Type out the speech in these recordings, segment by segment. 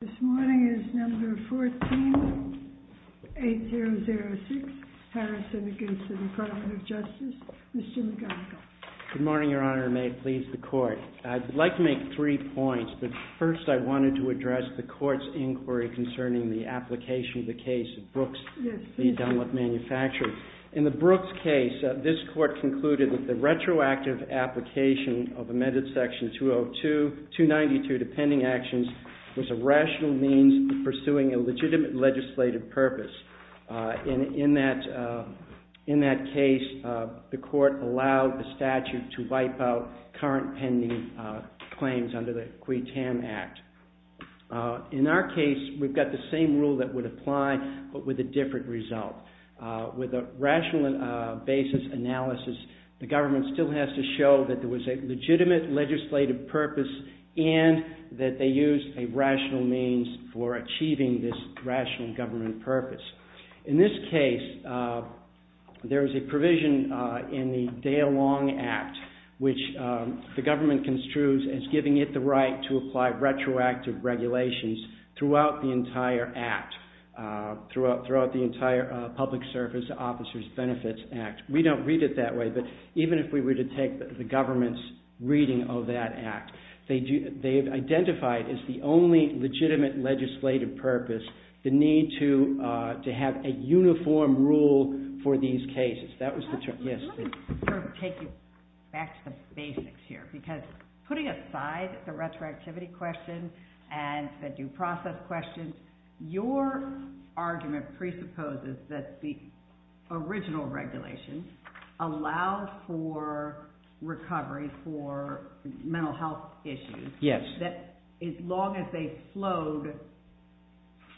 this morning is number 14-8006, Harrison against the Department of Justice. Mr. McGonigal. Good morning, Your Honor, and may it please the Court. I'd like to make three points, but first I wanted to address the Court's inquiry concerning the application of the case of Brooks v. Dunlap Manufacturing. In the Brooks case, this Court concluded that the retroactive application of amended Section 202, 292, the pending actions, was a rational means of pursuing a legitimate legislative purpose. In that case, the Court allowed the statute to wipe out current pending claims under the Quay-Tam Act. In our case, we've got the same rule that would apply, but with a different result. With a rational basis analysis, the government still has to show that there was a legitimate legislative purpose and that they used a rational means for achieving this rational government purpose. In this case, there is a provision in the Daylong Act which the government construes as giving it the right to apply retroactive regulations throughout the entire Act, throughout the entire Public Service Officers Benefits Act. We don't read it that way, but even if we were to take the government's reading of that Act, they've identified as the only legitimate legislative purpose the need to have a uniform rule for these cases. Let me take you back to the basics here, because putting aside the retroactivity question and the due process question, your argument presupposes that the original regulation allowed for recovery for mental health issues as long as they flowed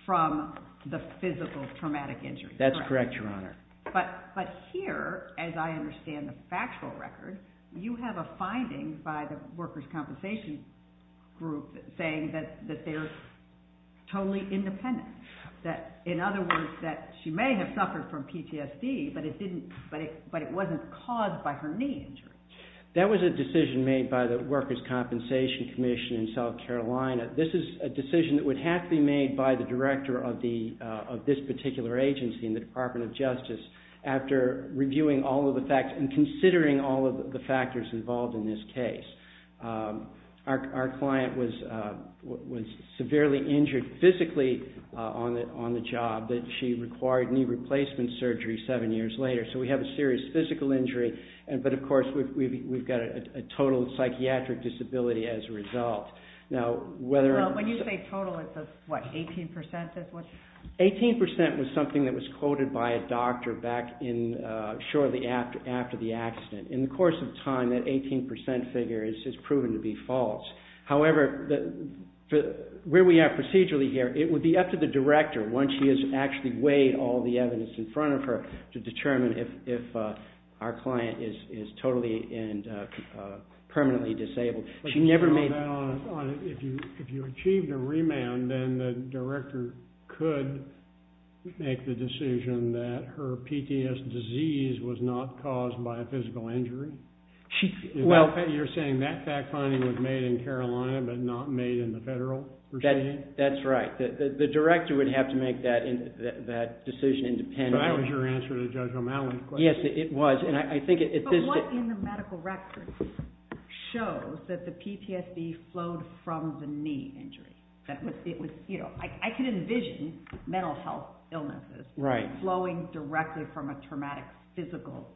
from the physical traumatic injury. That's correct, Your Honor. But here, as I understand the factual record, you have a finding by the workers' compensation group saying that they're totally independent. In other words, that she may have suffered from PTSD, but it wasn't caused by her knee injury. That was a decision made by the Workers' Compensation Commission in South Carolina. This is a decision that would have to be made by the director of this particular agency in the Department of Justice after reviewing all of the facts and considering all of the factors involved in this case. Our client was severely injured physically on the job. She required knee replacement surgery seven years later, so we have a serious physical injury. But, of course, we've got a total psychiatric disability as a result. When you say total, it's what, 18%? 18% was something that was quoted by a doctor shortly after the accident. In the course of time, that 18% figure has proven to be false. However, where we are procedurally here, it would be up to the director, once she has actually weighed all the evidence in front of her, to determine if our client is totally and permanently disabled. If you achieved a remand, then the director could make the decision that her PTS disease was not caused by a physical injury? You're saying that fact-finding was made in Carolina but not made in the federal regime? That's right. The director would have to make that decision independently. But that was your answer to Judge O'Malley's question. Yes, it was. But what in the medical records shows that the PTSB flowed from the knee injury? I can envision mental health illnesses flowing directly from a traumatic physical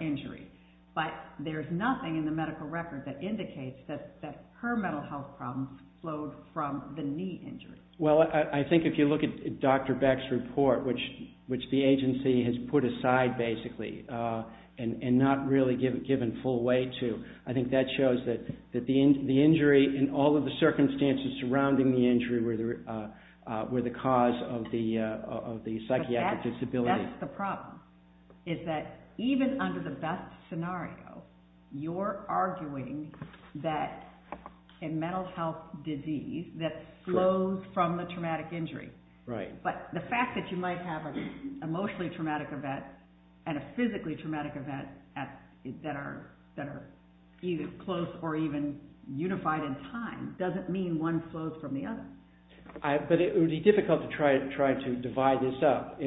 injury. But there's nothing in the medical record that indicates that her mental health problems flowed from the knee injury. Well, I think if you look at Dr. Beck's report, which the agency has put aside basically and not really given full weight to, I think that shows that the injury and all of the circumstances surrounding the injury were the cause of the psychiatric disability. But that's the problem, is that even under the best scenario, you're arguing that a mental health disease that flows from a traumatic injury. But the fact that you might have an emotionally traumatic event and a physically traumatic event that are either close or even unified in time doesn't mean one flows from the other. But it would be difficult to try to divide this up.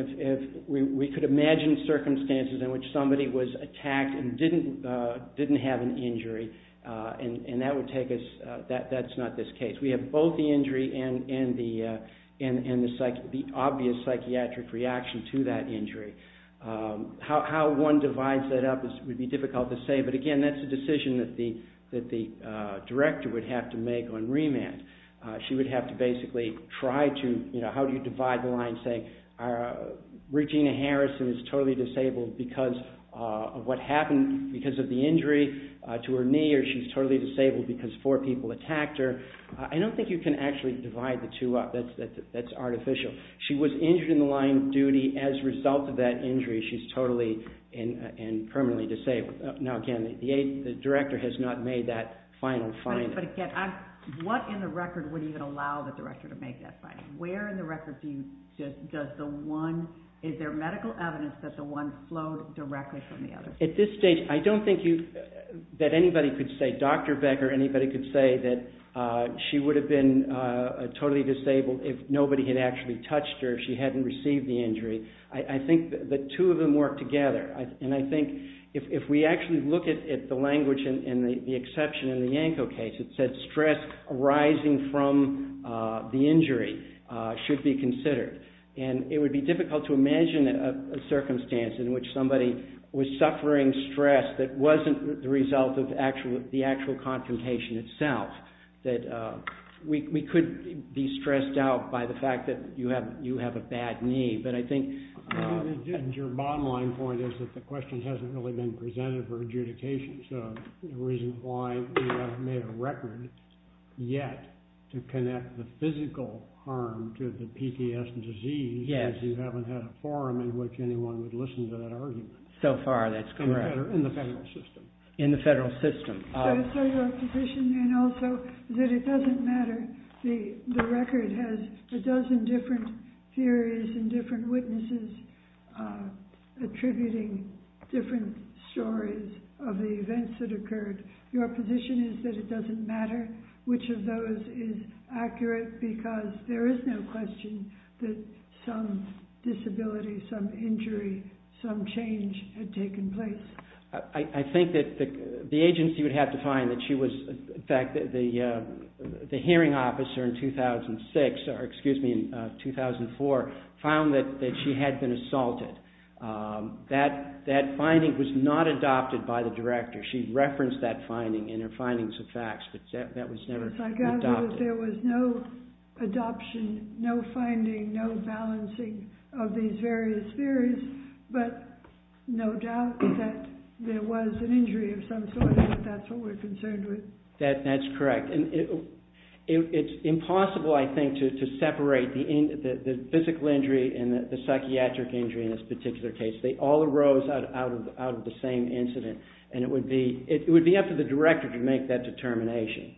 We could imagine circumstances in which somebody was attacked and didn't have an injury and that's not this case. We have both the injury and the obvious psychiatric reaction to that injury. How one divides that up would be difficult to say. But again, that's a decision that the director would have to make on remand. She would have to basically try to divide the line saying, Regina Harrison is totally disabled because of the injury to her knee or she's totally disabled because four people attacked her. I don't think you can actually divide the two up. That's artificial. She was injured in the line of duty as a result of that injury. She's totally and permanently disabled. Now again, the director has not made that final finding. But again, what in the record would even allow the director to make that finding? Where in the record is there medical evidence that the one flowed directly from the other? At this stage, I don't think that anybody could say, Dr. Becker, that she would have been totally disabled if nobody had actually touched her, if she hadn't received the injury. I think the two of them work together. And I think if we actually look at the language and the exception in the Yanko case, it said stress arising from the injury should be considered. And it would be difficult to imagine a circumstance in which somebody was suffering stress that wasn't the result of the actual confrontation itself. We could be stressed out by the fact that you have a bad knee. Your bottom line point is that the question hasn't really been presented for adjudication. So the reason why we haven't made a record yet to connect the physical harm to the PTSD is you haven't had a forum in which anyone would listen to that argument. So far, that's correct. In the federal system. In the federal system. So your position, and also that it doesn't matter, the record has a dozen different theories and different witnesses attributing different stories of the events that occurred. Your position is that it doesn't matter which of those is accurate because there is no question that some disability, some injury, some change had taken place. I think that the agency would have to find that she was, in fact, the hearing officer in 2004 found that she had been assaulted. That finding was not adopted by the director. She referenced that finding in her findings of facts, but that was never adopted. Yes, I gather that there was no adoption, no finding, no balancing of these various theories, but no doubt that there was an injury of some sort and that's what we're concerned with. That's correct. It's impossible, I think, to separate the physical injury and the psychiatric injury in this particular case. They all arose out of the same incident, and it would be up to the director to make that determination.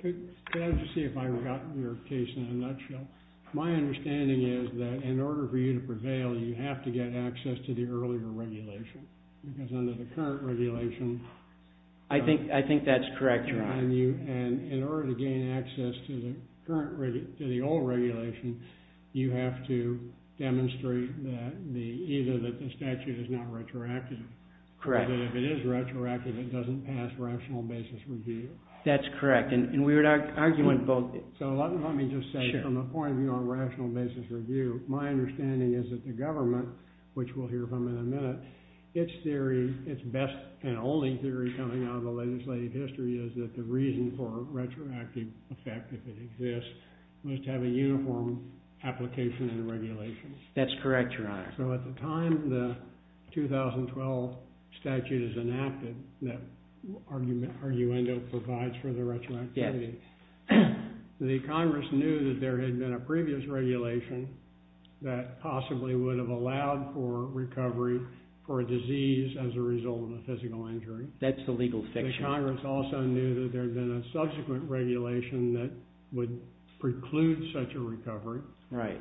Could I just see if I got your case in a nutshell? My understanding is that in order for you to prevail, you have to get access to the earlier regulation because under the current regulation- I think that's correct, Your Honor. In order to gain access to the old regulation, you have to demonstrate either that the statute is not retroactive- if it is retroactive, it doesn't pass rational basis review. That's correct, and we would argue on both. Let me just say, from a point of view on rational basis review, my understanding is that the government, which we'll hear from in a minute, its best and only theory coming out of the legislative history is that the reason for retroactive effect, if it exists, must have a uniform application and regulation. That's correct, Your Honor. So at the time the 2012 statute is enacted, that argument provides for the retroactivity, the Congress knew that there had been a previous regulation that possibly would have allowed for recovery for a disease as a result of a physical injury. That's the legal fiction. The Congress also knew that there had been a subsequent regulation that would preclude such a recovery. Right.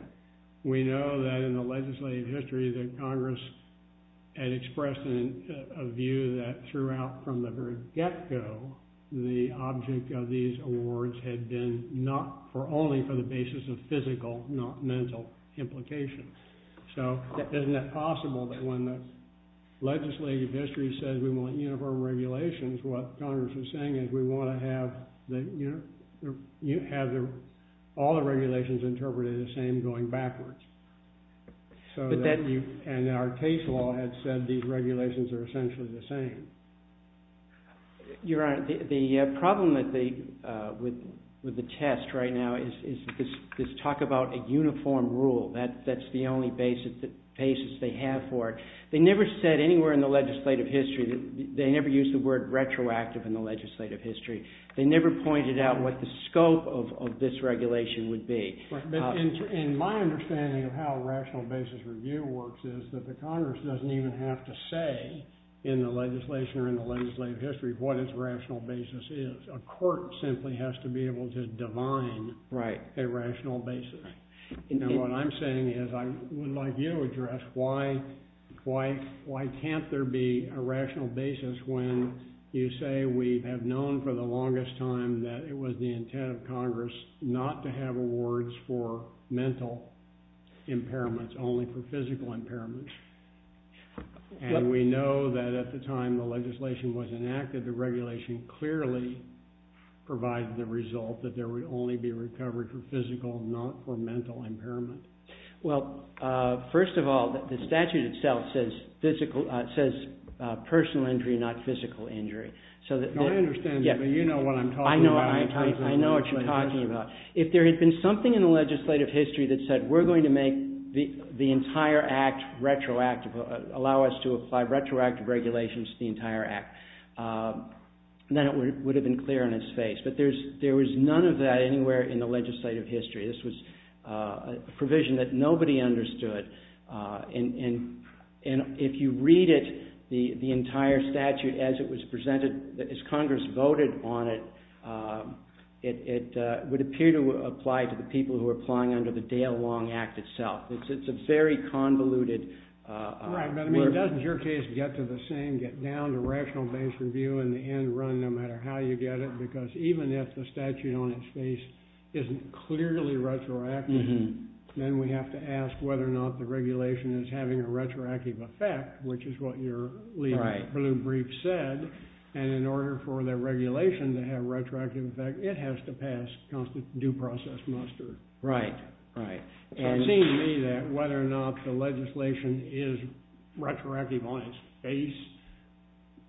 We know that in the legislative history that Congress had expressed a view that throughout from the very get-go, the object of these awards had been not for only for the basis of physical, not mental, implications. So isn't it possible that when the legislative history said we want uniform regulations, what Congress was saying is we want to have all the regulations interpreted the same going backwards. And our case law had said these regulations are essentially the same. Your Honor, the problem with the test right now is talk about a uniform rule. That's the only basis they have for it. They never said anywhere in the legislative history, they never used the word retroactive in the legislative history. They never pointed out what the scope of this regulation would be. But in my understanding of how a rational basis review works is that the Congress doesn't even have to say in the legislation or in the legislative history what its rational basis is. A court simply has to be able to divine a rational basis. And what I'm saying is I would like you to address why can't there be a rational basis when you say we have known for the longest time that it was the intent of Congress not to have awards for mental impairments, only for physical impairments. And we know that at the time the legislation was enacted, the regulation clearly provided the result that there would only be recovery for physical, not for mental impairment. Well, first of all, the statute itself says personal injury, not physical injury. I understand that, but you know what I'm talking about. I know what you're talking about. If there had been something in the legislative history that said we're going to make the entire act retroactive, allow us to apply retroactive regulations to the entire act, then it would have been clear on its face. But there was none of that anywhere in the legislative history. This was a provision that nobody understood, and if you read it, the entire statute as it was presented, as Congress voted on it, it would appear to apply to the people who were applying under the Dale Long Act itself. It's a very convoluted work. Right, but, I mean, doesn't your case get to the same, get down to rational base review in the end run no matter how you get it, because even if the statute on its face isn't clearly retroactive, then we have to ask whether or not the regulation is having a retroactive effect, which is what your lead blue brief said, and in order for the regulation to have a retroactive effect, it has to pass due process muster. Right, right. It seems to me that whether or not the legislation is retroactive on its face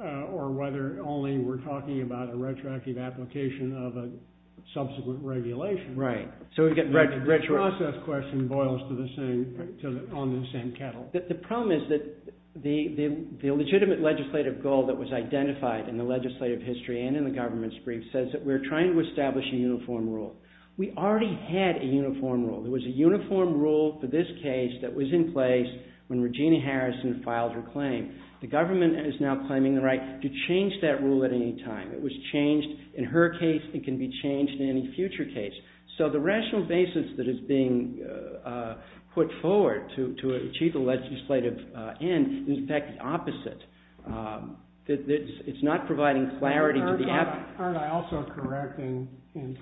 or whether only we're talking about a retroactive application of a subsequent regulation. Right. The process question boils on the same kettle. The problem is that the legitimate legislative goal that was identified in the legislative history and in the government's brief says that we're trying to establish a uniform rule. We already had a uniform rule. There was a uniform rule for this case that was in place when Regina Harrison filed her claim. The government is now claiming the right to change that rule at any time. It was changed in her case. It can be changed in any future case. So the rational basis that is being put forward to achieve the legislative end is, in fact, the opposite. It's not providing clarity. Aren't I also correct in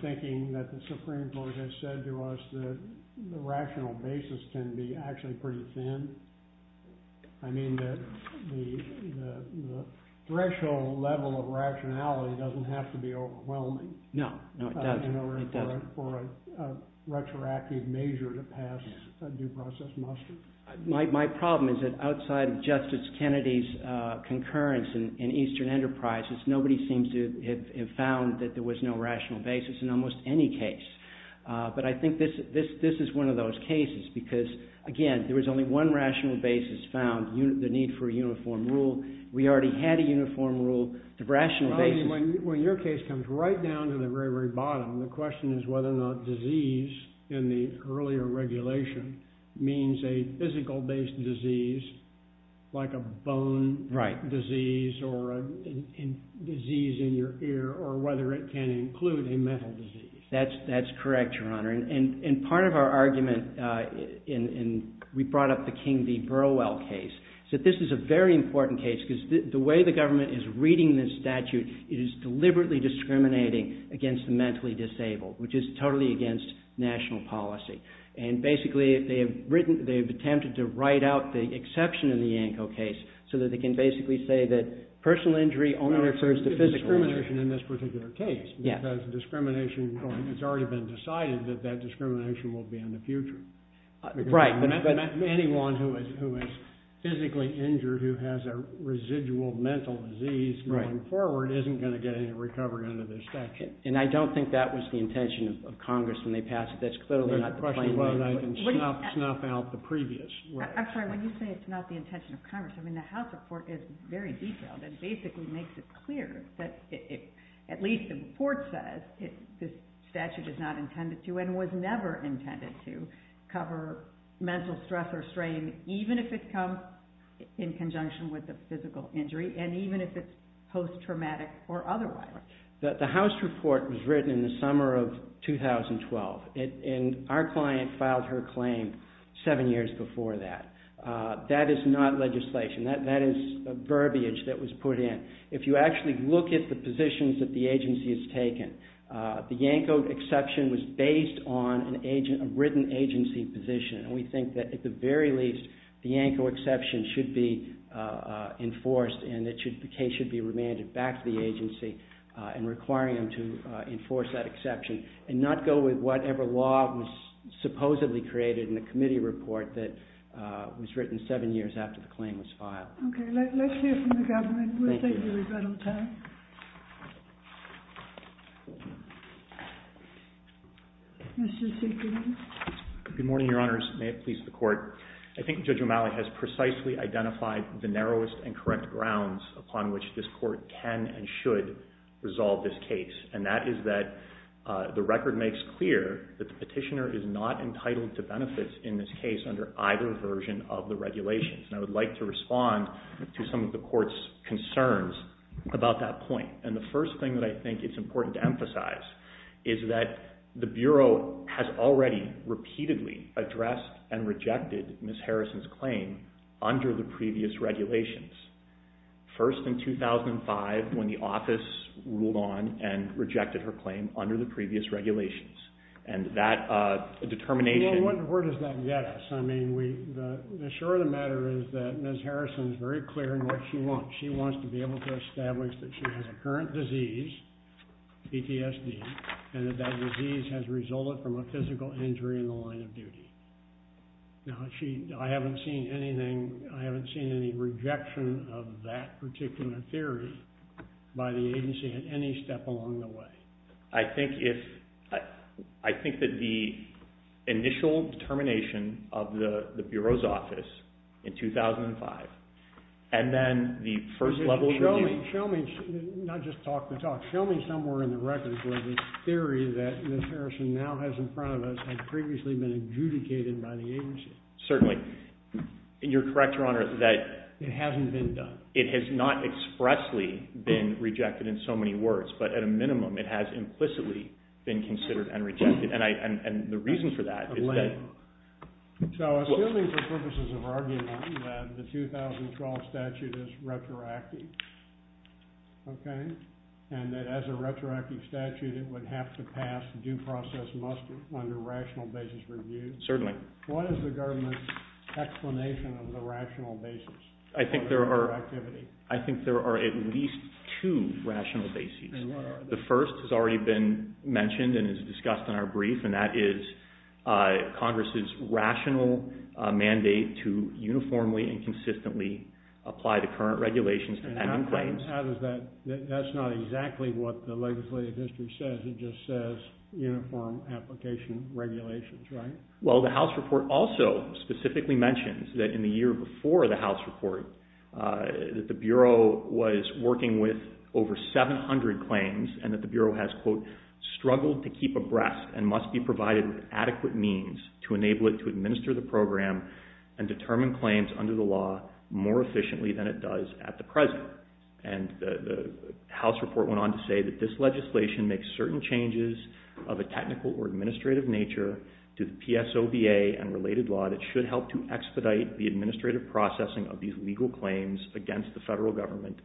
thinking that the Supreme Court has said to us that the rational basis can be actually pretty thin? I mean, the threshold level of rationality doesn't have to be overwhelming. No, no, it doesn't. In order for a retroactive measure to pass a due process muster. My problem is that outside of Justice Kennedy's concurrence in Eastern Enterprises, nobody seems to have found that there was no rational basis in almost any case. But I think this is one of those cases because, again, there was only one rational basis found, the need for a uniform rule. We already had a uniform rule. The rational basis— When your case comes right down to the very, very bottom, the question is whether or not disease in the earlier regulation means a physical-based disease like a bone disease or a disease in your ear or whether it can include a mental disease. That's correct, Your Honor. And part of our argument, and we brought up the King v. Burwell case, is that this is a very important case because the way the government is reading this statute is deliberately discriminating against the mentally disabled, which is totally against national policy. And basically, they've attempted to write out the exception in the Yanko case so that they can basically say that personal injury only refers to physical injury. Well, there's discrimination in this particular case because discrimination has already been decided that that discrimination will be in the future. Right. Anyone who is physically injured who has a residual mental disease going forward isn't going to get any recovery under this statute. And I don't think that was the intention of Congress when they passed it. That's clearly not the plan. The question is whether they can snuff out the previous. I'm sorry, when you say it's not the intention of Congress, I mean, the House report is very detailed and basically makes it clear that at least the report says this statute is not intended to and was never intended to cover mental stress or strain, even if it comes in conjunction with a physical injury, and even if it's post-traumatic or otherwise. The House report was written in the summer of 2012, and our client filed her claim seven years before that. That is not legislation. That is a verbiage that was put in. If you actually look at the positions that the agency has taken, the Yanko exception was based on a written agency position, and we think that at the very least the Yanko exception should be enforced and the case should be remanded back to the agency and requiring them to enforce that exception and not go with whatever law was supposedly created in the committee report that was written seven years after the claim was filed. Okay, let's hear from the government. We'll take your rebuttal, Tom. Mr. Siegel. Good morning, Your Honors. May it please the Court. I think Judge O'Malley has precisely identified the narrowest and correct grounds upon which this Court can and should resolve this case, and that is that the record makes clear that the petitioner is not entitled to benefits in this case under either version of the regulations, and I would like to respond to some of the Court's concerns about that point. And the first thing that I think it's important to emphasize is that the Bureau has already repeatedly addressed and rejected Ms. Harrison's claim under the previous regulations, first in 2005 when the office ruled on and rejected her claim under the previous regulations, and that determination... Well, where does that get us? I mean, sure, the matter is that Ms. Harrison is very clear in what she wants. She wants to be able to establish that she has a current disease, PTSD, and that that disease has resulted from a physical injury in the line of duty. Now, I haven't seen anything, I haven't seen any rejection of that particular theory by the agency at any step along the way. I think that the initial determination of the Bureau's office in 2005 and then the first level of... Show me, not just talk the talk, show me somewhere in the records where this theory that Ms. Harrison now has in front of us had previously been adjudicated by the agency. Certainly. And you're correct, Your Honor, that... It hasn't been done. It has not expressly been rejected in so many words, but at a minimum it has implicitly been considered and rejected, and the reason for that is that... So, assuming for purposes of argument that the 2012 statute is retroactive, okay, and that as a retroactive statute it would have to pass due process muster under rational basis review... Certainly. What is the government's explanation of the rational basis? I think there are... Retroactivity. I think there are at least two rational basis. And what are they? The first has already been mentioned and is discussed in our brief, and that is Congress's rational mandate to uniformly and consistently apply the current regulations to pending claims. How does that... That's not exactly what the legislative history says, it just says uniform application regulations, right? Well, the House report also specifically mentions that in the year before the House report that the Bureau was working with over 700 claims and that the Bureau has, quote, struggled to keep abreast and must be provided with adequate means to enable it to administer the program and determine claims under the law more efficiently than it does at the present. And the House report went on to say that this legislation makes certain changes of a technical or administrative nature to the PSOBA and related law that should help to expedite the administrative processing of these legal claims against the federal government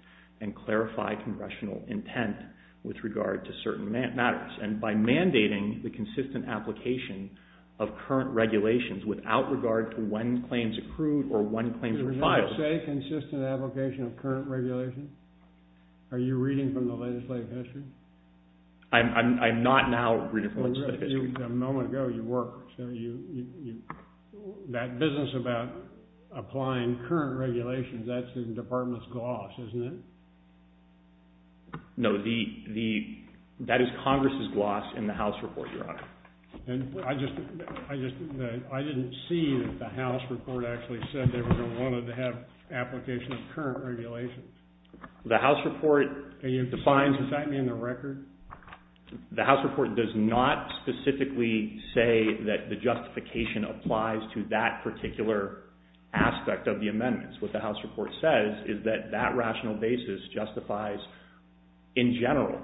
and clarify congressional intent with regard to certain matters. And by mandating the consistent application of current regulations without regard to when claims accrued or when claims were filed... Did it not say consistent application of current regulations? Are you reading from the legislative history? I'm not now reading from the legislative history. A moment ago, you were. That business about applying current regulations, that's the department's gloss, isn't it? No, that is Congress's gloss in the House report, Your Honor. I didn't see that the House report actually said they wanted to have application of current regulations. The House report defines... Does that mean the record? The House report does not specifically say that the justification applies to that particular aspect of the amendments. What the House report says is that that rational basis justifies, in general,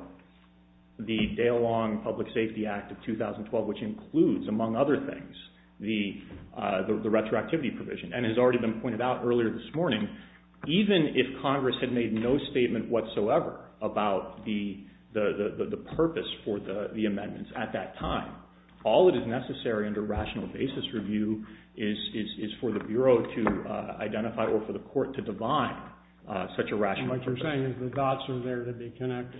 the day-long Public Safety Act of 2012, which includes, among other things, the retroactivity provision and has already been pointed out earlier this morning, even if Congress had made no statement whatsoever about the purpose for the amendments at that time. All that is necessary under rational basis review is for the Bureau to identify or for the Court to define such a rational basis. What you're saying is the dots are there to be connected?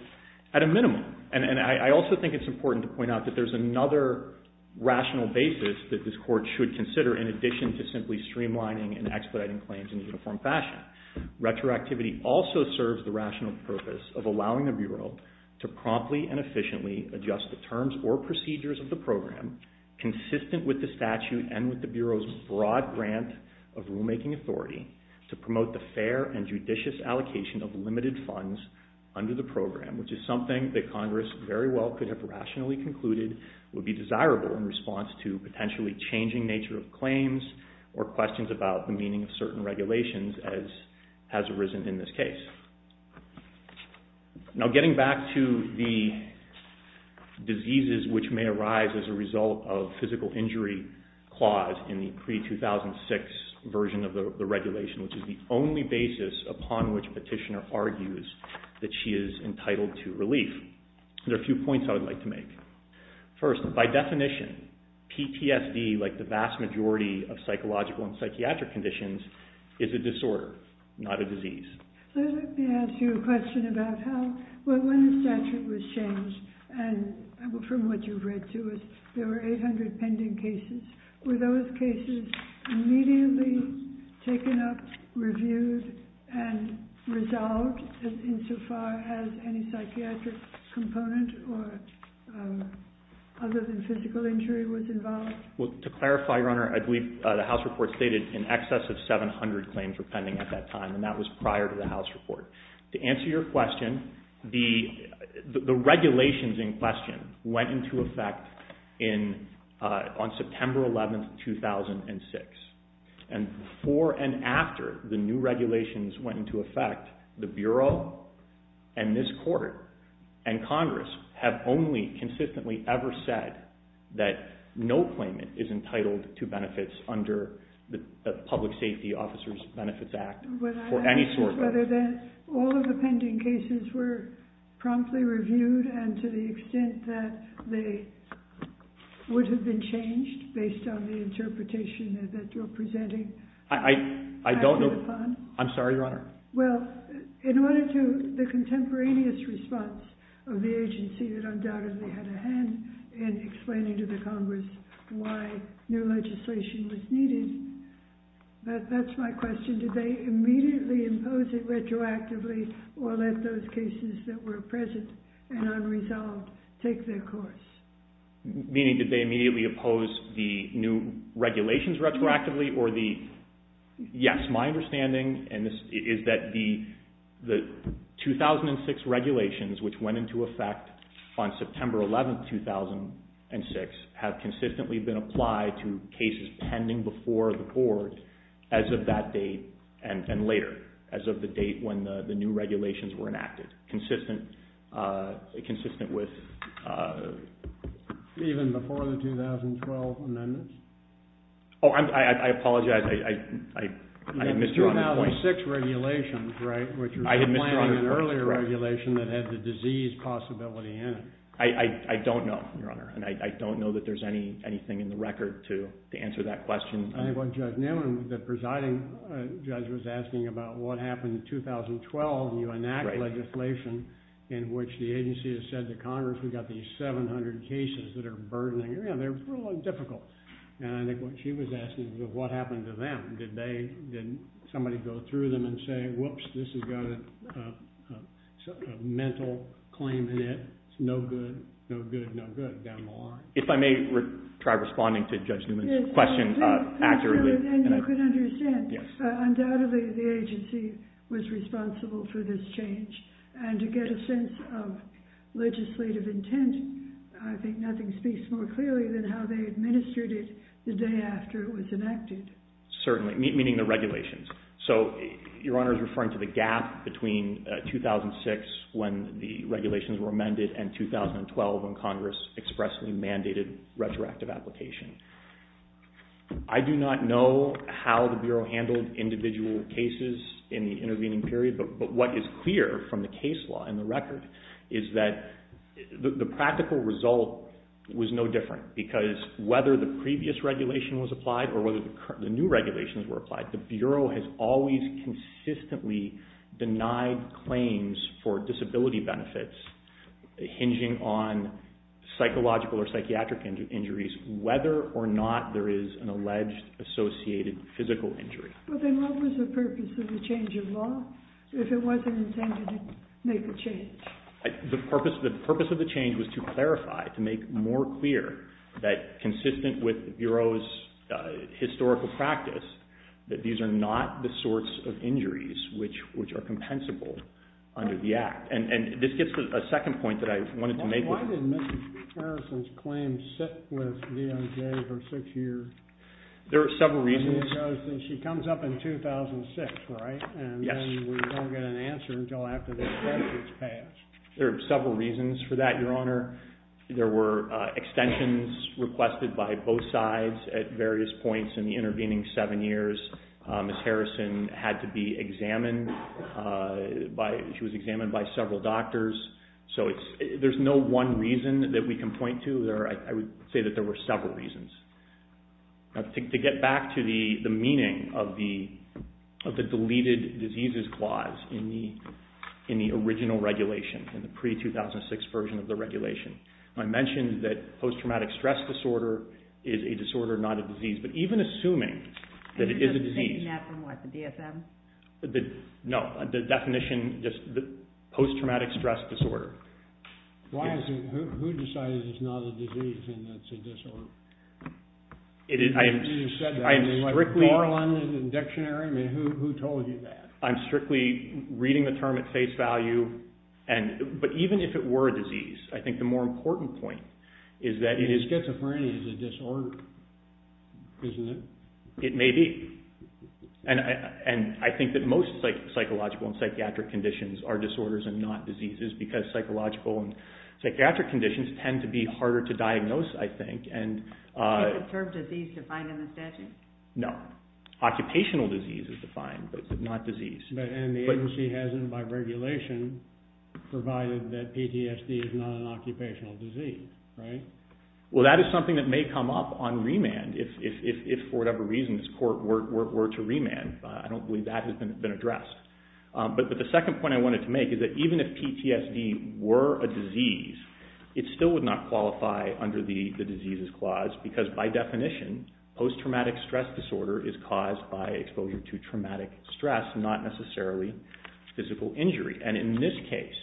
At a minimum. And I also think it's important to point out that there's another rational basis that this Court should consider in addition to simply streamlining and expediting claims in a uniform fashion. And that retroactivity also serves the rational purpose of allowing the Bureau to promptly and efficiently adjust the terms or procedures of the program, consistent with the statute and with the Bureau's broad grant of rulemaking authority, to promote the fair and judicious allocation of limited funds under the program, which is something that Congress very well could have rationally concluded would be desirable in response to potentially changing nature of claims or questions about the meaning of certain regulations as has arisen in this case. Now getting back to the diseases which may arise as a result of physical injury clause in the pre-2006 version of the regulation, which is the only basis upon which Petitioner argues that she is entitled to relief, there are a few points I would like to make. First, by definition, PTSD, like the vast majority of psychological and psychiatric conditions, is a disorder, not a disease. Let me ask you a question about how, well, when the statute was changed, and from what you've read to us, there were 800 pending cases. Were those cases immediately taken up, reviewed, and resolved insofar as any psychiatric component or other than physical injury was involved? Well, to clarify, Your Honor, I believe the House report stated in excess of 700 claims were pending at that time, and that was prior to the House report. To answer your question, the regulations in question went into effect on September 11, 2006, and before and after the new regulations went into effect, the Bureau and this Court and Congress have only consistently ever said that no claimant is entitled to benefits under the Public Safety Officers Benefits Act for any sort of... But I'm asking whether all of the pending cases were promptly reviewed and to the extent that they would have been changed based on the interpretation that you're presenting. I don't know. I'm sorry, Your Honor. Well, in order to... The contemporaneous response of the agency that undoubtedly had a hand in explaining to the Congress why new legislation was needed, that's my question. Did they immediately impose it retroactively or let those cases that were present and unresolved take their course? Meaning, did they immediately oppose the new regulations retroactively or the... The answer is that the 2006 regulations, which went into effect on September 11, 2006, have consistently been applied to cases pending before the Court as of that date and later as of the date when the new regulations were enacted, consistent with... Even before the 2012 amendments? Oh, I apologize. The 2006 regulations, right, which were applying an earlier regulation that had the disease possibility in it. I don't know, Your Honor, and I don't know that there's anything in the record to answer that question. I think what Judge Newman, the presiding judge, was asking about what happened in 2012 when you enact legislation in which the agency has said to Congress, we've got these 700 cases that are burdening, they're really difficult. And I think what she was asking is what happened to them. Did somebody go through them and say, whoops, this has got a mental claim in it, it's no good, no good, no good down the line. If I may try responding to Judge Newman's question accurately... And you can understand, undoubtedly the agency was responsible for this change and to get a sense of legislative intent, I think nothing speaks more clearly than how they administered it the day after it was enacted. Certainly, meaning the regulations. So Your Honor is referring to the gap between 2006 when the regulations were amended and 2012 when Congress expressly mandated retroactive application. I do not know how the Bureau handled individual cases in the intervening period, but what is clear from the case law in the record is that the practical result was no different because whether the previous regulation was applied or whether the new regulations were applied, the Bureau has always consistently denied claims for disability benefits hinging on psychological or psychiatric injuries whether or not there is an alleged associated physical injury. Then what was the purpose of the change of law if it wasn't intended to make a change? The purpose of the change was to clarify, to make more clear that consistent with the Bureau's historical practice that these are not the sorts of injuries which are compensable under the Act. And this gets to a second point that I wanted to make. Why did Ms. Harrison's claim sit with DOJ for six years? There are several reasons. She comes up in 2006, right? Yes. And then we don't get an answer until after the express is passed. There are several reasons for that, Your Honor. There were extensions requested by both sides at various points in the intervening seven years. Ms. Harrison had to be examined. She was examined by several doctors. So there's no one reason that we can point to. I would say that there were several reasons. To get back to the meaning of the deleted diseases clause in the original regulation, in the pre-2006 version of the regulation, I mentioned that post-traumatic stress disorder is a disorder, not a disease. But even assuming that it is a disease... Are you taking that from what, the DSM? No, the definition, just post-traumatic stress disorder. Who decided it's not a disease and that it's a disorder? You said that. I'm strictly... Borland in the dictionary? Who told you that? I'm strictly reading the term at face value. But even if it were a disease, I think the more important point is that... Schizophrenia is a disorder, isn't it? It may be. And I think that most psychological and psychiatric conditions are disorders and not diseases because psychological and psychiatric conditions tend to be harder to diagnose, I think. Is the term disease defined in the statute? No. Occupational disease is defined, but not disease. And the agency has it by regulation provided that PTSD is not an occupational disease, right? Well, that is something that may come up on remand if, for whatever reason, this court were to remand. I don't believe that has been addressed. But the second point I wanted to make is that even if PTSD were a disease, it still would not qualify under the diseases clause because, by definition, post-traumatic stress disorder is caused by exposure to traumatic stress, not necessarily physical injury. And in this case,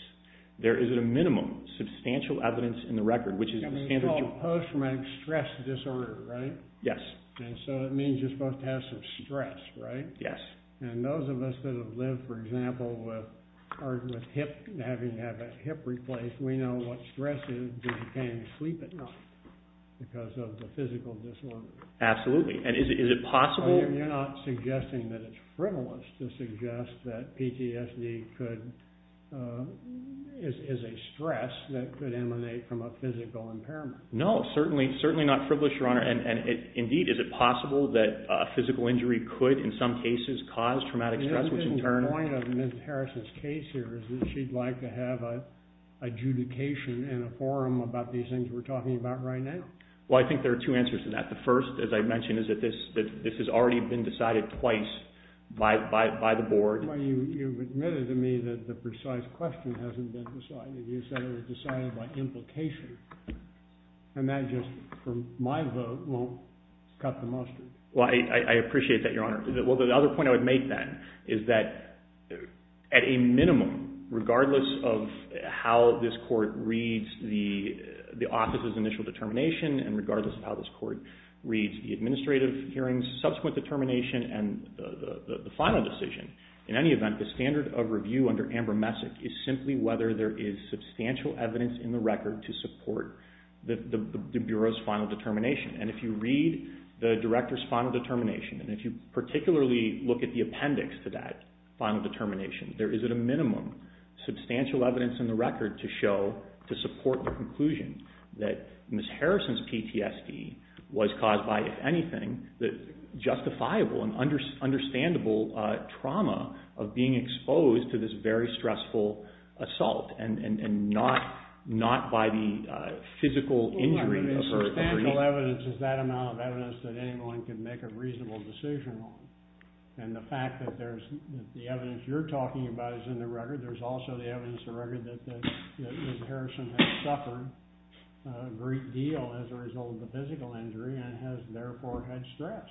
there isn't a minimum substantial evidence in the record, which is... It's called post-traumatic stress disorder, right? Yes. And so it means you're supposed to have some stress, right? Yes. And those of us that have lived, for example, with having to have a hip replaced, we know what stress is if you can't sleep at night because of the physical disorder. Absolutely. And is it possible... You're not suggesting that it's frivolous to suggest that PTSD is a stress that could emanate from a physical impairment. No, certainly not frivolous, Your Honor. And, indeed, is it possible that physical injury could, in some cases, cause traumatic stress, which in turn... The point of Ms. Harrison's case here is that she'd like to have an adjudication in a forum about these things we're talking about right now. Well, I think there are two answers to that. The first, as I mentioned, is that this has already been decided twice by the board. Well, you've admitted to me that the precise question hasn't been decided. You said it was decided by implication. And that just, from my vote, won't cut the mustard. Well, I appreciate that, Your Honor. Well, the other point I would make, then, is that, at a minimum, regardless of how this Court reads the office's initial determination, and regardless of how this Court reads the administrative hearing's subsequent determination and the final decision, in any event, the standard of review under Amber Messick is simply whether there is substantial evidence in the record to support the Bureau's final determination. And if you read the Director's final determination, and if you particularly look at the appendix to that final determination, there is, at a minimum, substantial evidence in the record to show, to support the conclusion, that Ms. Harrison's PTSD was caused by, if anything, justifiable and understandable trauma of being exposed to this very stressful assault and not by the physical injury of her knee. Substantial evidence is that amount of evidence that anyone can make a reasonable decision on. And the fact that the evidence you're talking about is in the record, there's also the evidence in the record that Ms. Harrison has suffered a great deal as a result of the physical injury and has, therefore, had stress.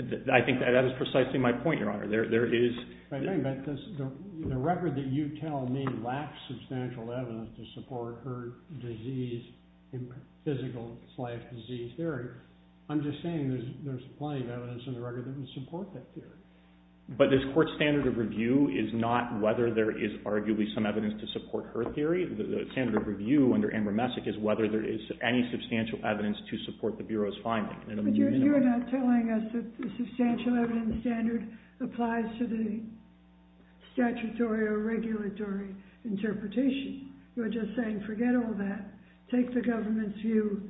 I think that is precisely my point, Your Honor. There is... The record that you tell me lacks substantial evidence to support her disease, physical life disease theory. I'm just saying there's plenty of evidence in the record that would support that theory. But this Court's standard of review is not whether there is arguably some evidence to support her theory. The standard of review under Amber Messick is whether there is any substantial evidence to support the Bureau's finding. But you're not telling us that the substantial evidence standard applies to the statutory or regulatory interpretation. You're just saying, forget all that. Take the government's view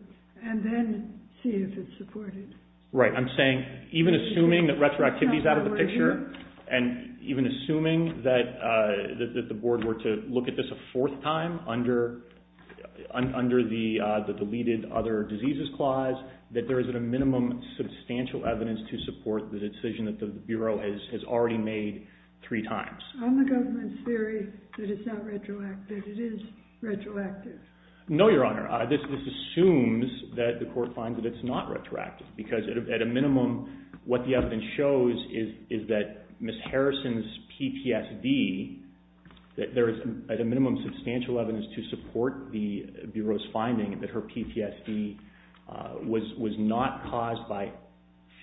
and then see if it's supported. Right. I'm saying, even assuming that retroactivity is out of the picture and even assuming that the Board were to look at this a fourth time under the deleted other diseases clause, that there isn't a minimum substantial evidence to support the decision that the Bureau has already made three times. On the government's theory that it's not retroactive, it is retroactive. No, Your Honor. This assumes that the Court finds that it's not retroactive because at a minimum, what the evidence shows is that Ms. Harrison's PTSD, that there is at a minimum substantial evidence to support the Bureau's finding that her PTSD was not caused by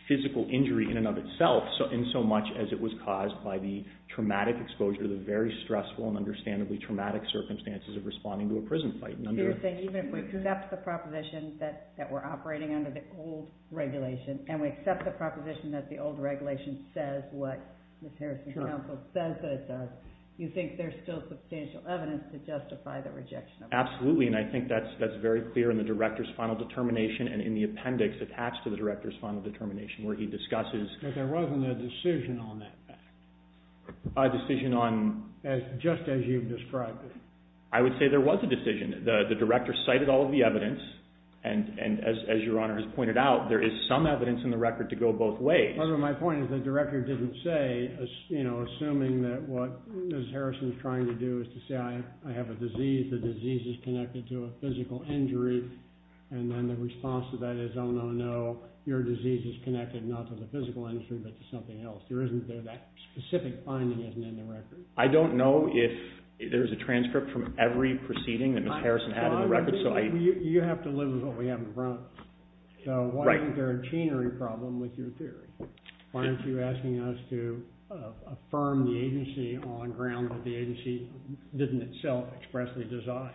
physical injury in and of itself in so much as it was caused by the traumatic exposure, the very stressful and understandably traumatic circumstances of responding to a prison fight. Even if we accept the proposition that we're operating under the old regulation and we accept the proposition that the old regulation says what Ms. Harrison's counsel says that it does, you think there's still substantial evidence to justify the rejection of it? Absolutely, and I think that's very clear in the Director's final determination and in the appendix attached to the Director's final determination where he discusses... But there wasn't a decision on that fact. A decision on... Just as you've described it. I would say there was a decision. The Director cited all of the evidence and as Your Honor has pointed out, there is some evidence in the record to go both ways. My point is that the Director didn't say, you know, assuming that what Ms. Harrison's trying to do is to say, I have a disease, the disease is connected to a physical injury, and then the response to that is, oh, no, no, your disease is connected not to the physical injury but to something else. There isn't there. That specific finding isn't in the record. I don't know if there's a transcript from every proceeding that Ms. Harrison had in the record, so I... You have to live with what we have in front. So why isn't there a chainery problem with your theory? Why aren't you asking us to affirm the agency on ground that the agency didn't itself expressly design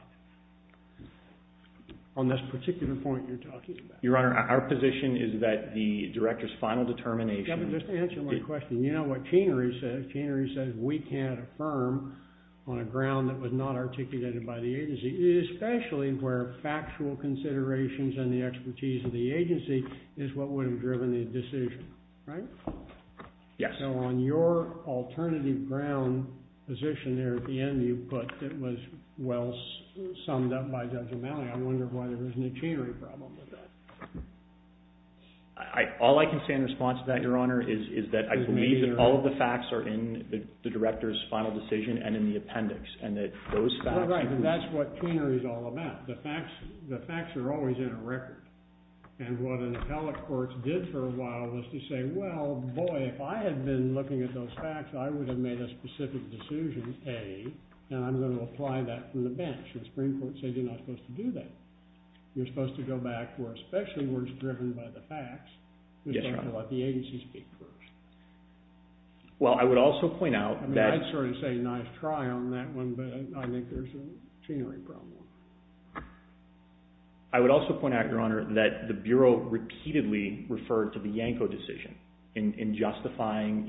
on this particular point you're talking about? Your Honor, our position is that the Director's final determination... Chainery says we can't affirm on a ground that was not articulated by the agency, especially where factual considerations and the expertise of the agency is what would have driven the decision, right? Yes. So on your alternative ground position there at the end you put, it was well summed up by Judge O'Malley. I wonder why there isn't a chainery problem with that. All I can say in response to that, is that the facts are in the Director's final decision and in the appendix, and that those facts... That's what chainery is all about. The facts are always in a record. And what an appellate court did for a while was to say, well, boy, if I had been looking at those facts, I would have made a specific decision, A, and I'm going to apply that from the bench. The Supreme Court said you're not supposed to do that. You're supposed to go back where especially words driven by the facts, let the agency speak first. Well, I would also point out that... I mean, I'd sort of say nice try on that one, but I think there's a chainery problem. I would also point out, Your Honor, that the Bureau repeatedly referred to the Yanko decision in justifying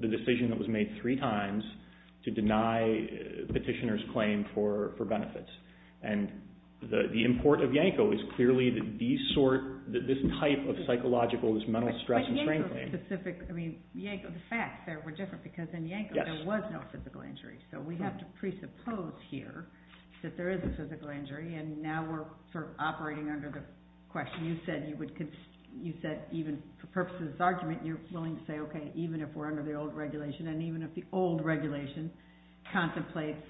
the decision that was made three times to deny petitioner's claim for benefits. And the import of Yanko is clearly that these sort, this type of psychological, this mental stress... But Yanko, the facts there were different because in Yanko there was no physical injury. So we have to presuppose here that there is a physical injury and now we're sort of operating under the question. You said you would even for purposes of this argument you're willing to say, okay, even if we're under the old regulation, and even if the old regulation contemplates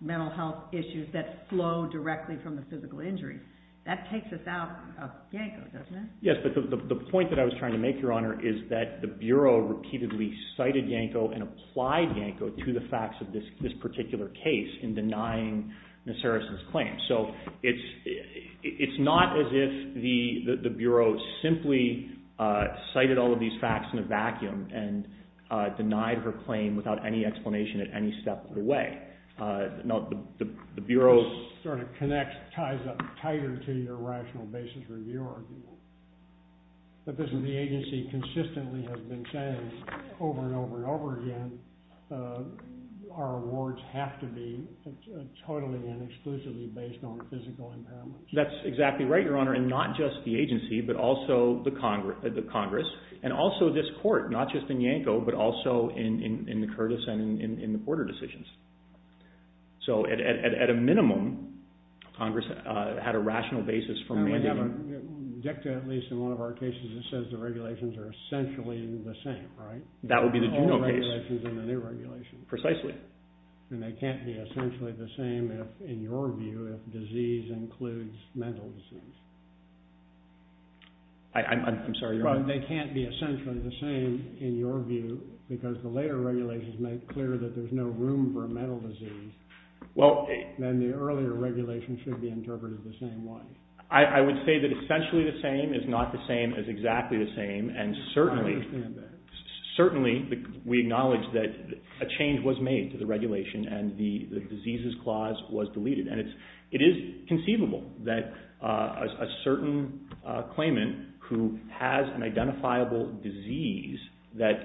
mental health issues that flow directly from the physical injury, that takes us out of Yanko, doesn't it? Yes, but the point that I was trying to make, Your Honor, is that the Bureau repeatedly cited Yanko and applied Yanko to the facts of this particular case in denying Nassaris's claim. So it's not as if the Bureau simply cited all of these facts in a vacuum and denied her claim without any explanation at any step of the way. No, the Bureau ties up tighter to your rational basis review argument. The agency consistently has been saying over and over and over again our awards have to be totally and exclusively based on physical impairments. That's exactly right, Your Honor, and not just the agency but also the Congress and also this Court, not just in Yanko but also in the Curtis and in the Porter decisions. So at a minimum, Congress had a rational basis from when they have a... At least in one of our cases it says the regulations are essentially the same, right? That would be the Juno case. The old regulations and the new regulations. Precisely. And they can't be essentially the same if, in your view, if disease includes mental disease. I'm sorry, Your Honor. They can't be essentially the same, in your view, because the later regulations make clear that there's no room for mental disease. Then the earlier regulations should be interpreted the same way. I would say that essentially the same is not the same is exactly the same and certainly I understand that. Certainly we acknowledge that a change was made to the regulation and the diseases clause was deleted. It is conceivable that a certain claimant who has an identifiable disease that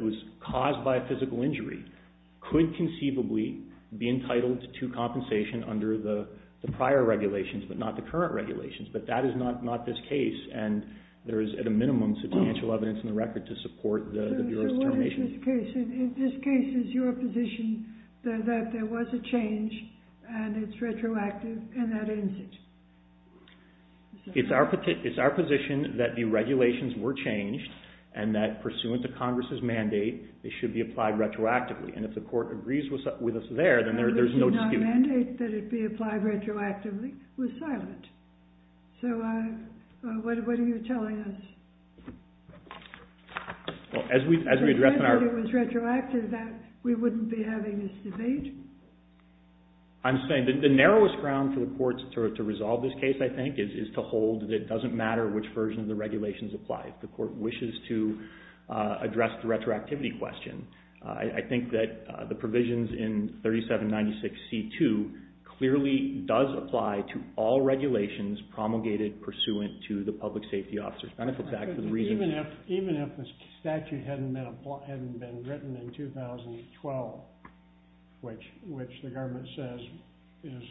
was caused by a physical injury could conceivably be entitled to compensation under the prior regulations but not the current regulations. But that is not this case and there is at a minimum substantial evidence in the record to support the Bureau's determination. So what is this case? If this case is your position that there was a change and it's retroactive and that ends it? It's our position that the case is retroactive and that pursuant to Congress's mandate it should be applied retroactively and if the court agrees with us there then there's no dispute. The mandate that it be applied retroactively was silent. So what are you telling us? As we address in our... It was retroactive that we wouldn't be having this debate? I'm saying that the narrowest ground for the courts to resolve this case I think is to hold that it doesn't matter which version of the regulations applies. The court wishes to address the retroactivity question. I think that the provisions in 3796C2 clearly does apply to all regulations promulgated pursuant to the Public Safety Officer's Benefit Act. Even if the statute hadn't been written in 2012 which the government says is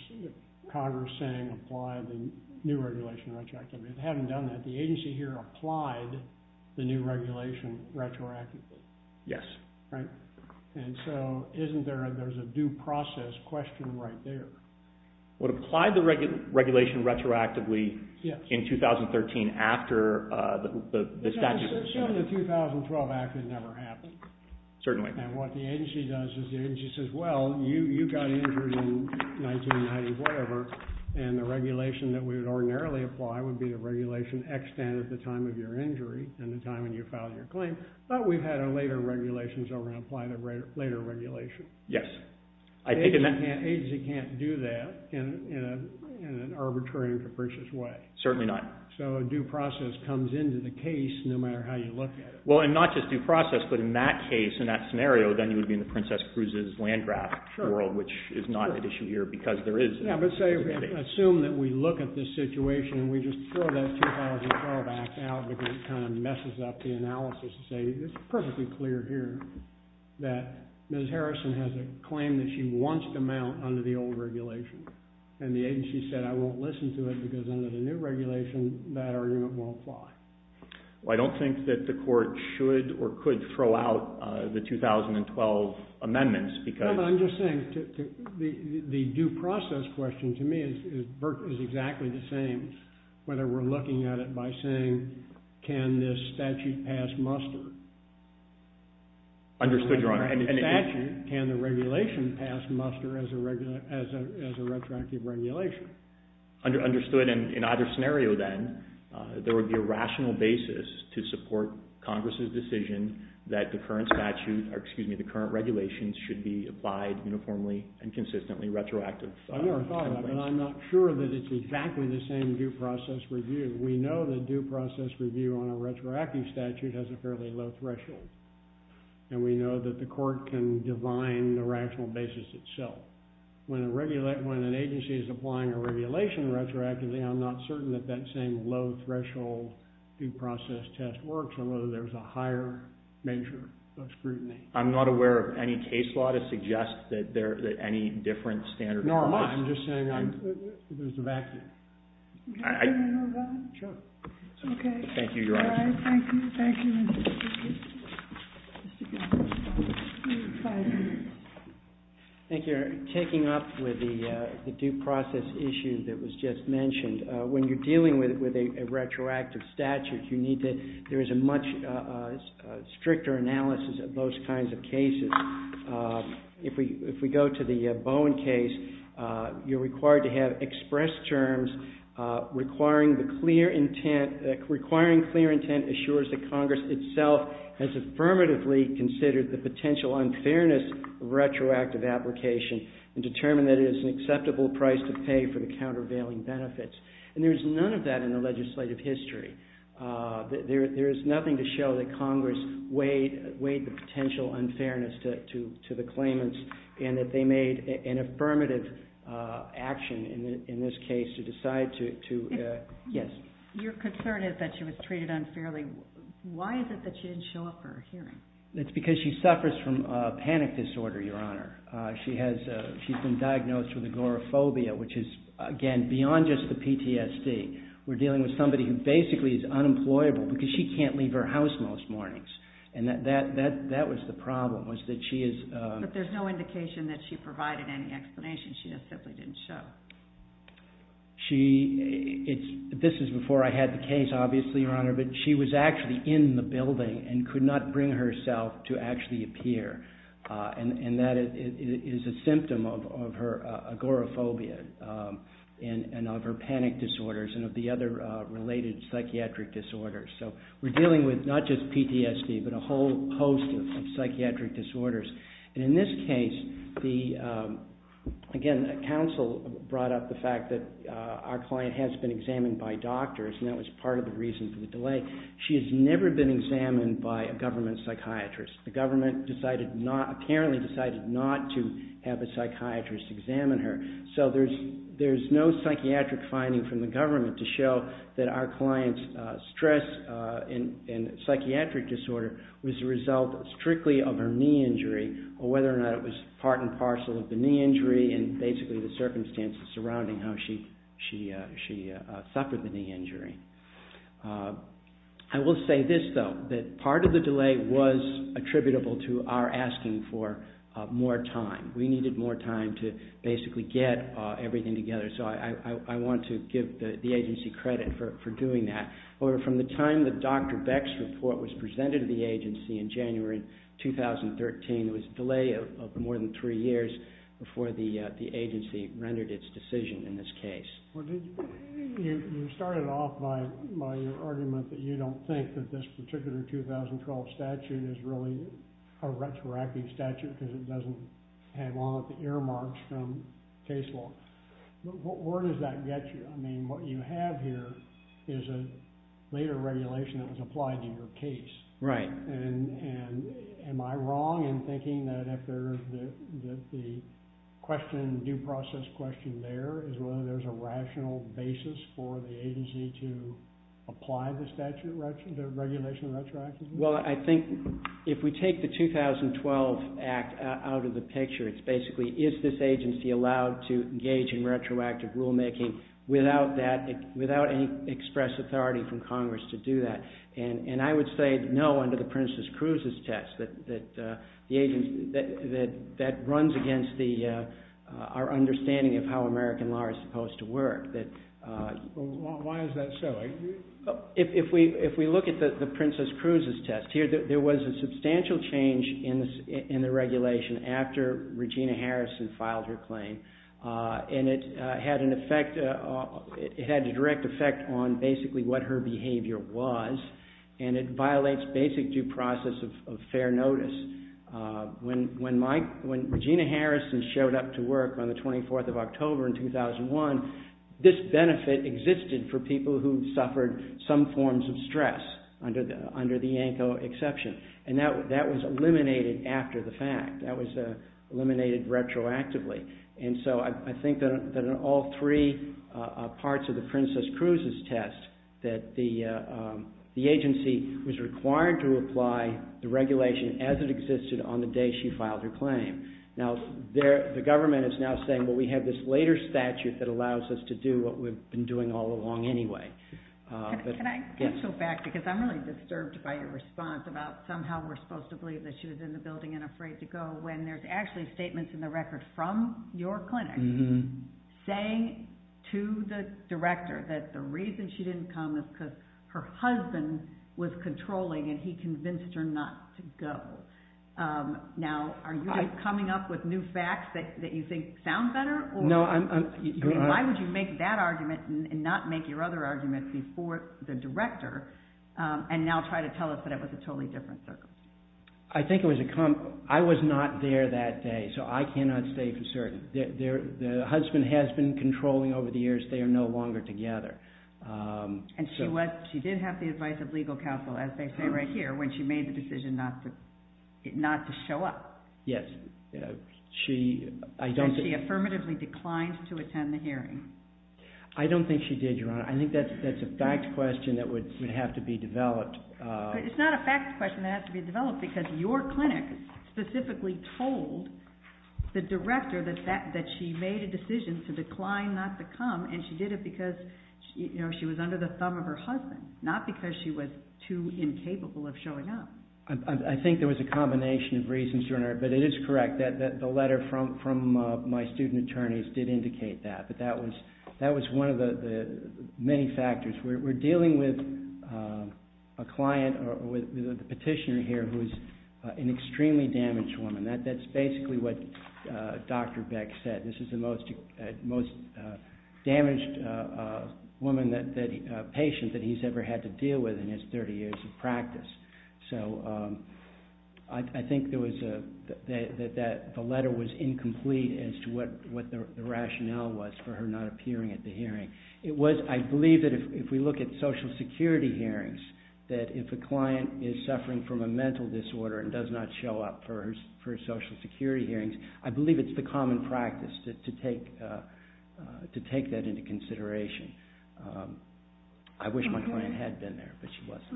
Congress saying apply the new regulation retroactively. If it hadn't done that the agency here applied the new regulation retroactively. Yes. So isn't there a due process question right there? Would apply the regulation retroactively in 2013 after the statute was signed? The 2012 act had never happened. Certainly. And what the agency does is the agency says well you got injured in 1990 or whatever and the regulation that we would ordinarily apply would be the regulation extend at the time of your injury and the time when you filed your claim. But we've had a later regulation so we're going to apply the later regulation. Yes. I think in that... The agency can't do that in an arbitrary and capricious way. Certainly not. So a due process comes into the case no matter how you look at it. Well and not just due process but in that case, in that scenario, then you would be in the Princess Cruises land graft world which is not an issue here because there is... Yeah but say, assume that we look at this situation and we just throw that 2012 act out because it kind of messes up the analysis to say it's perfectly clear here that Ms. Harrison has a claim that she wants to mount under the old regulation. And the agency said I won't listen to it because under the new regulation that argument won't fly. Well I don't think that the court should or could throw out the 2012 amendments No but I'm just saying the due process question to me is exactly the same whether we're looking at it by saying can this statute pass muster? Understood, Your Honor. Can the regulation pass muster as a retroactive regulation? Understood. In either scenario then, there would be a rational basis to support Congress's decision that the current regulations should be applied uniformly and consistently retroactive. I've never thought of that but I'm not sure that it's exactly the same due process review. We know that due process review on a retroactive statute has a fairly low threshold. And we know that the court can divine the rational basis itself. When an agency is applying a regulation retroactively, I'm not certain that that same low threshold due process test works or whether there's a higher measure of scrutiny. I'm not aware of any case law to suggest that any different standard applies. Nor am I. I'm just saying there's a vacuum. Thank you, Your Honor. Taking up with the due process issue that was just mentioned, when you're dealing with a retroactive statute you need to, there is a much greater analysis of those kinds of cases. If we go to the Bowen case, you're required to have express terms requiring the clear intent, requiring clear intent assures that Congress itself has affirmatively considered the potential unfairness of retroactive application and determined that it is an acceptable price to pay for the countervailing benefits. And there's none of that in the legislative history. There is nothing to show that Congress weighed the potential unfairness to the claimants and that they made an affirmative action in this case to decide to, yes. Your concern is that she was treated unfairly. Why is it that she didn't show up for a hearing? It's because she suffers from panic disorder, Your Honor. She has, she's been diagnosed with agoraphobia, which is again, beyond just the PTSD. We're dealing with somebody who basically is unemployable because she can't leave her house most mornings. And that was the problem, was that she is But there's no indication that she provided any explanation. She just simply didn't show. She, it's, this is before I had the case, obviously, Your Honor, but she was actually in the building and could not bring herself to actually appear. And that is a symptom of her agoraphobia and of her panic disorders and of the other related psychiatric disorders. So we're dealing with not just PTSD, but a whole host of psychiatric disorders. And in this case, the again, counsel brought up the fact that our client has been examined by doctors and that was part of the reason for the delay. She has never been examined by a government psychiatrist. The government decided not, apparently decided not to have a psychiatrist examine her. So there's no psychiatric finding from the government to show that our client's stress and psychiatric disorder was a result strictly of her knee injury or whether or not it was part and parcel of the knee injury and basically the circumstances surrounding how she suffered the knee injury. I will say this, though, that part of the delay was attributable to our asking for more time. We needed more time to basically get everything together. So I want to give the agency credit for doing that. From the time that Dr. Beck's report was presented to the agency in January 2013, it was a delay of more than three years before the agency rendered its decision in this case. You started off by your argument that you don't think that this particular 2012 statute is really a retroactive statute because it doesn't have all of the earmarks from case law. But where does that get you? I mean, what you have here is a later regulation that was applied to your case. Right. Am I wrong in thinking that the question, due process question there is whether there's a rational basis for the agency to apply the regulation retroactively? Well, I think if we take the 2012 act out of the picture, it's basically, is this agency allowed to engage in retroactive rulemaking without any express authority from Congress to do that? And I would say no under the Princess Cruz's test. The agency that runs against our understanding of how American law is supposed to work. Why is that so? If we look at the Princess Cruz's test, there was a substantial change in the regulation after Regina Harrison filed her claim and it had an effect it had a direct effect on basically what her behavior was and it violates basic due process of fair notice. When Regina Harrison showed up to work on the 24th of October in 2001, this benefit existed for people who suffered some forms of stress under the ANCO exception and that was eliminated after the fact. That was eliminated retroactively and so I think that in all three parts of the Princess Cruz's test that the agency was required to apply the regulation as it existed on the day she filed her claim. Now, the government is now saying, well, we have this later statute that allows us to do what we've been doing all along anyway. Can I get you back because I'm really disturbed by your response about somehow we're supposed to believe that she was in the building and afraid to go when there's actually statements in the record from your clinic saying to the director that the reason she didn't come is because her husband was controlling and he convinced her not to go. Now, are you coming up with new facts that you think sound better? Why would you make that argument before the director and now try to tell us that it was a totally different circumstance? I was not there that day so I cannot stay for certain. The husband has been controlling over the years. They are no longer together. She did have the advice of legal counsel as they say right here when she made the decision not to show up. Yes. She affirmatively declined to attend the hearing. I don't think she did, Your Honor. I think that's a fact question that would have to be developed. It's not a fact question that has to be developed because your clinic specifically told the director that she made a decision to decline not to come and she did it because she was under the thumb of her husband, not because she was too incapable of showing up. I think there was a combination of reasons, Your Honor, but it is correct that the letter from my student attorneys did indicate that. That was one of the many factors. We're dealing with a client or the petitioner here who is an extremely damaged woman. That's basically what Dr. Beck said. This is the most damaged patient that he's ever had to deal with in his 30 years of practice. I think that the letter was incomplete as to what the rationale was for her not appearing at the hearing. I believe that if we look at Social Security hearings, that if a client is suffering from a mental disorder and does not show up for Social Security hearings, I believe it's the common practice to take that into consideration. I wish my client had been there, but she wasn't.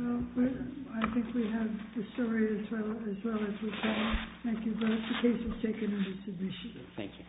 I think we have the story as well as we saw. Thank you both. The case is taken under submission. Thank you.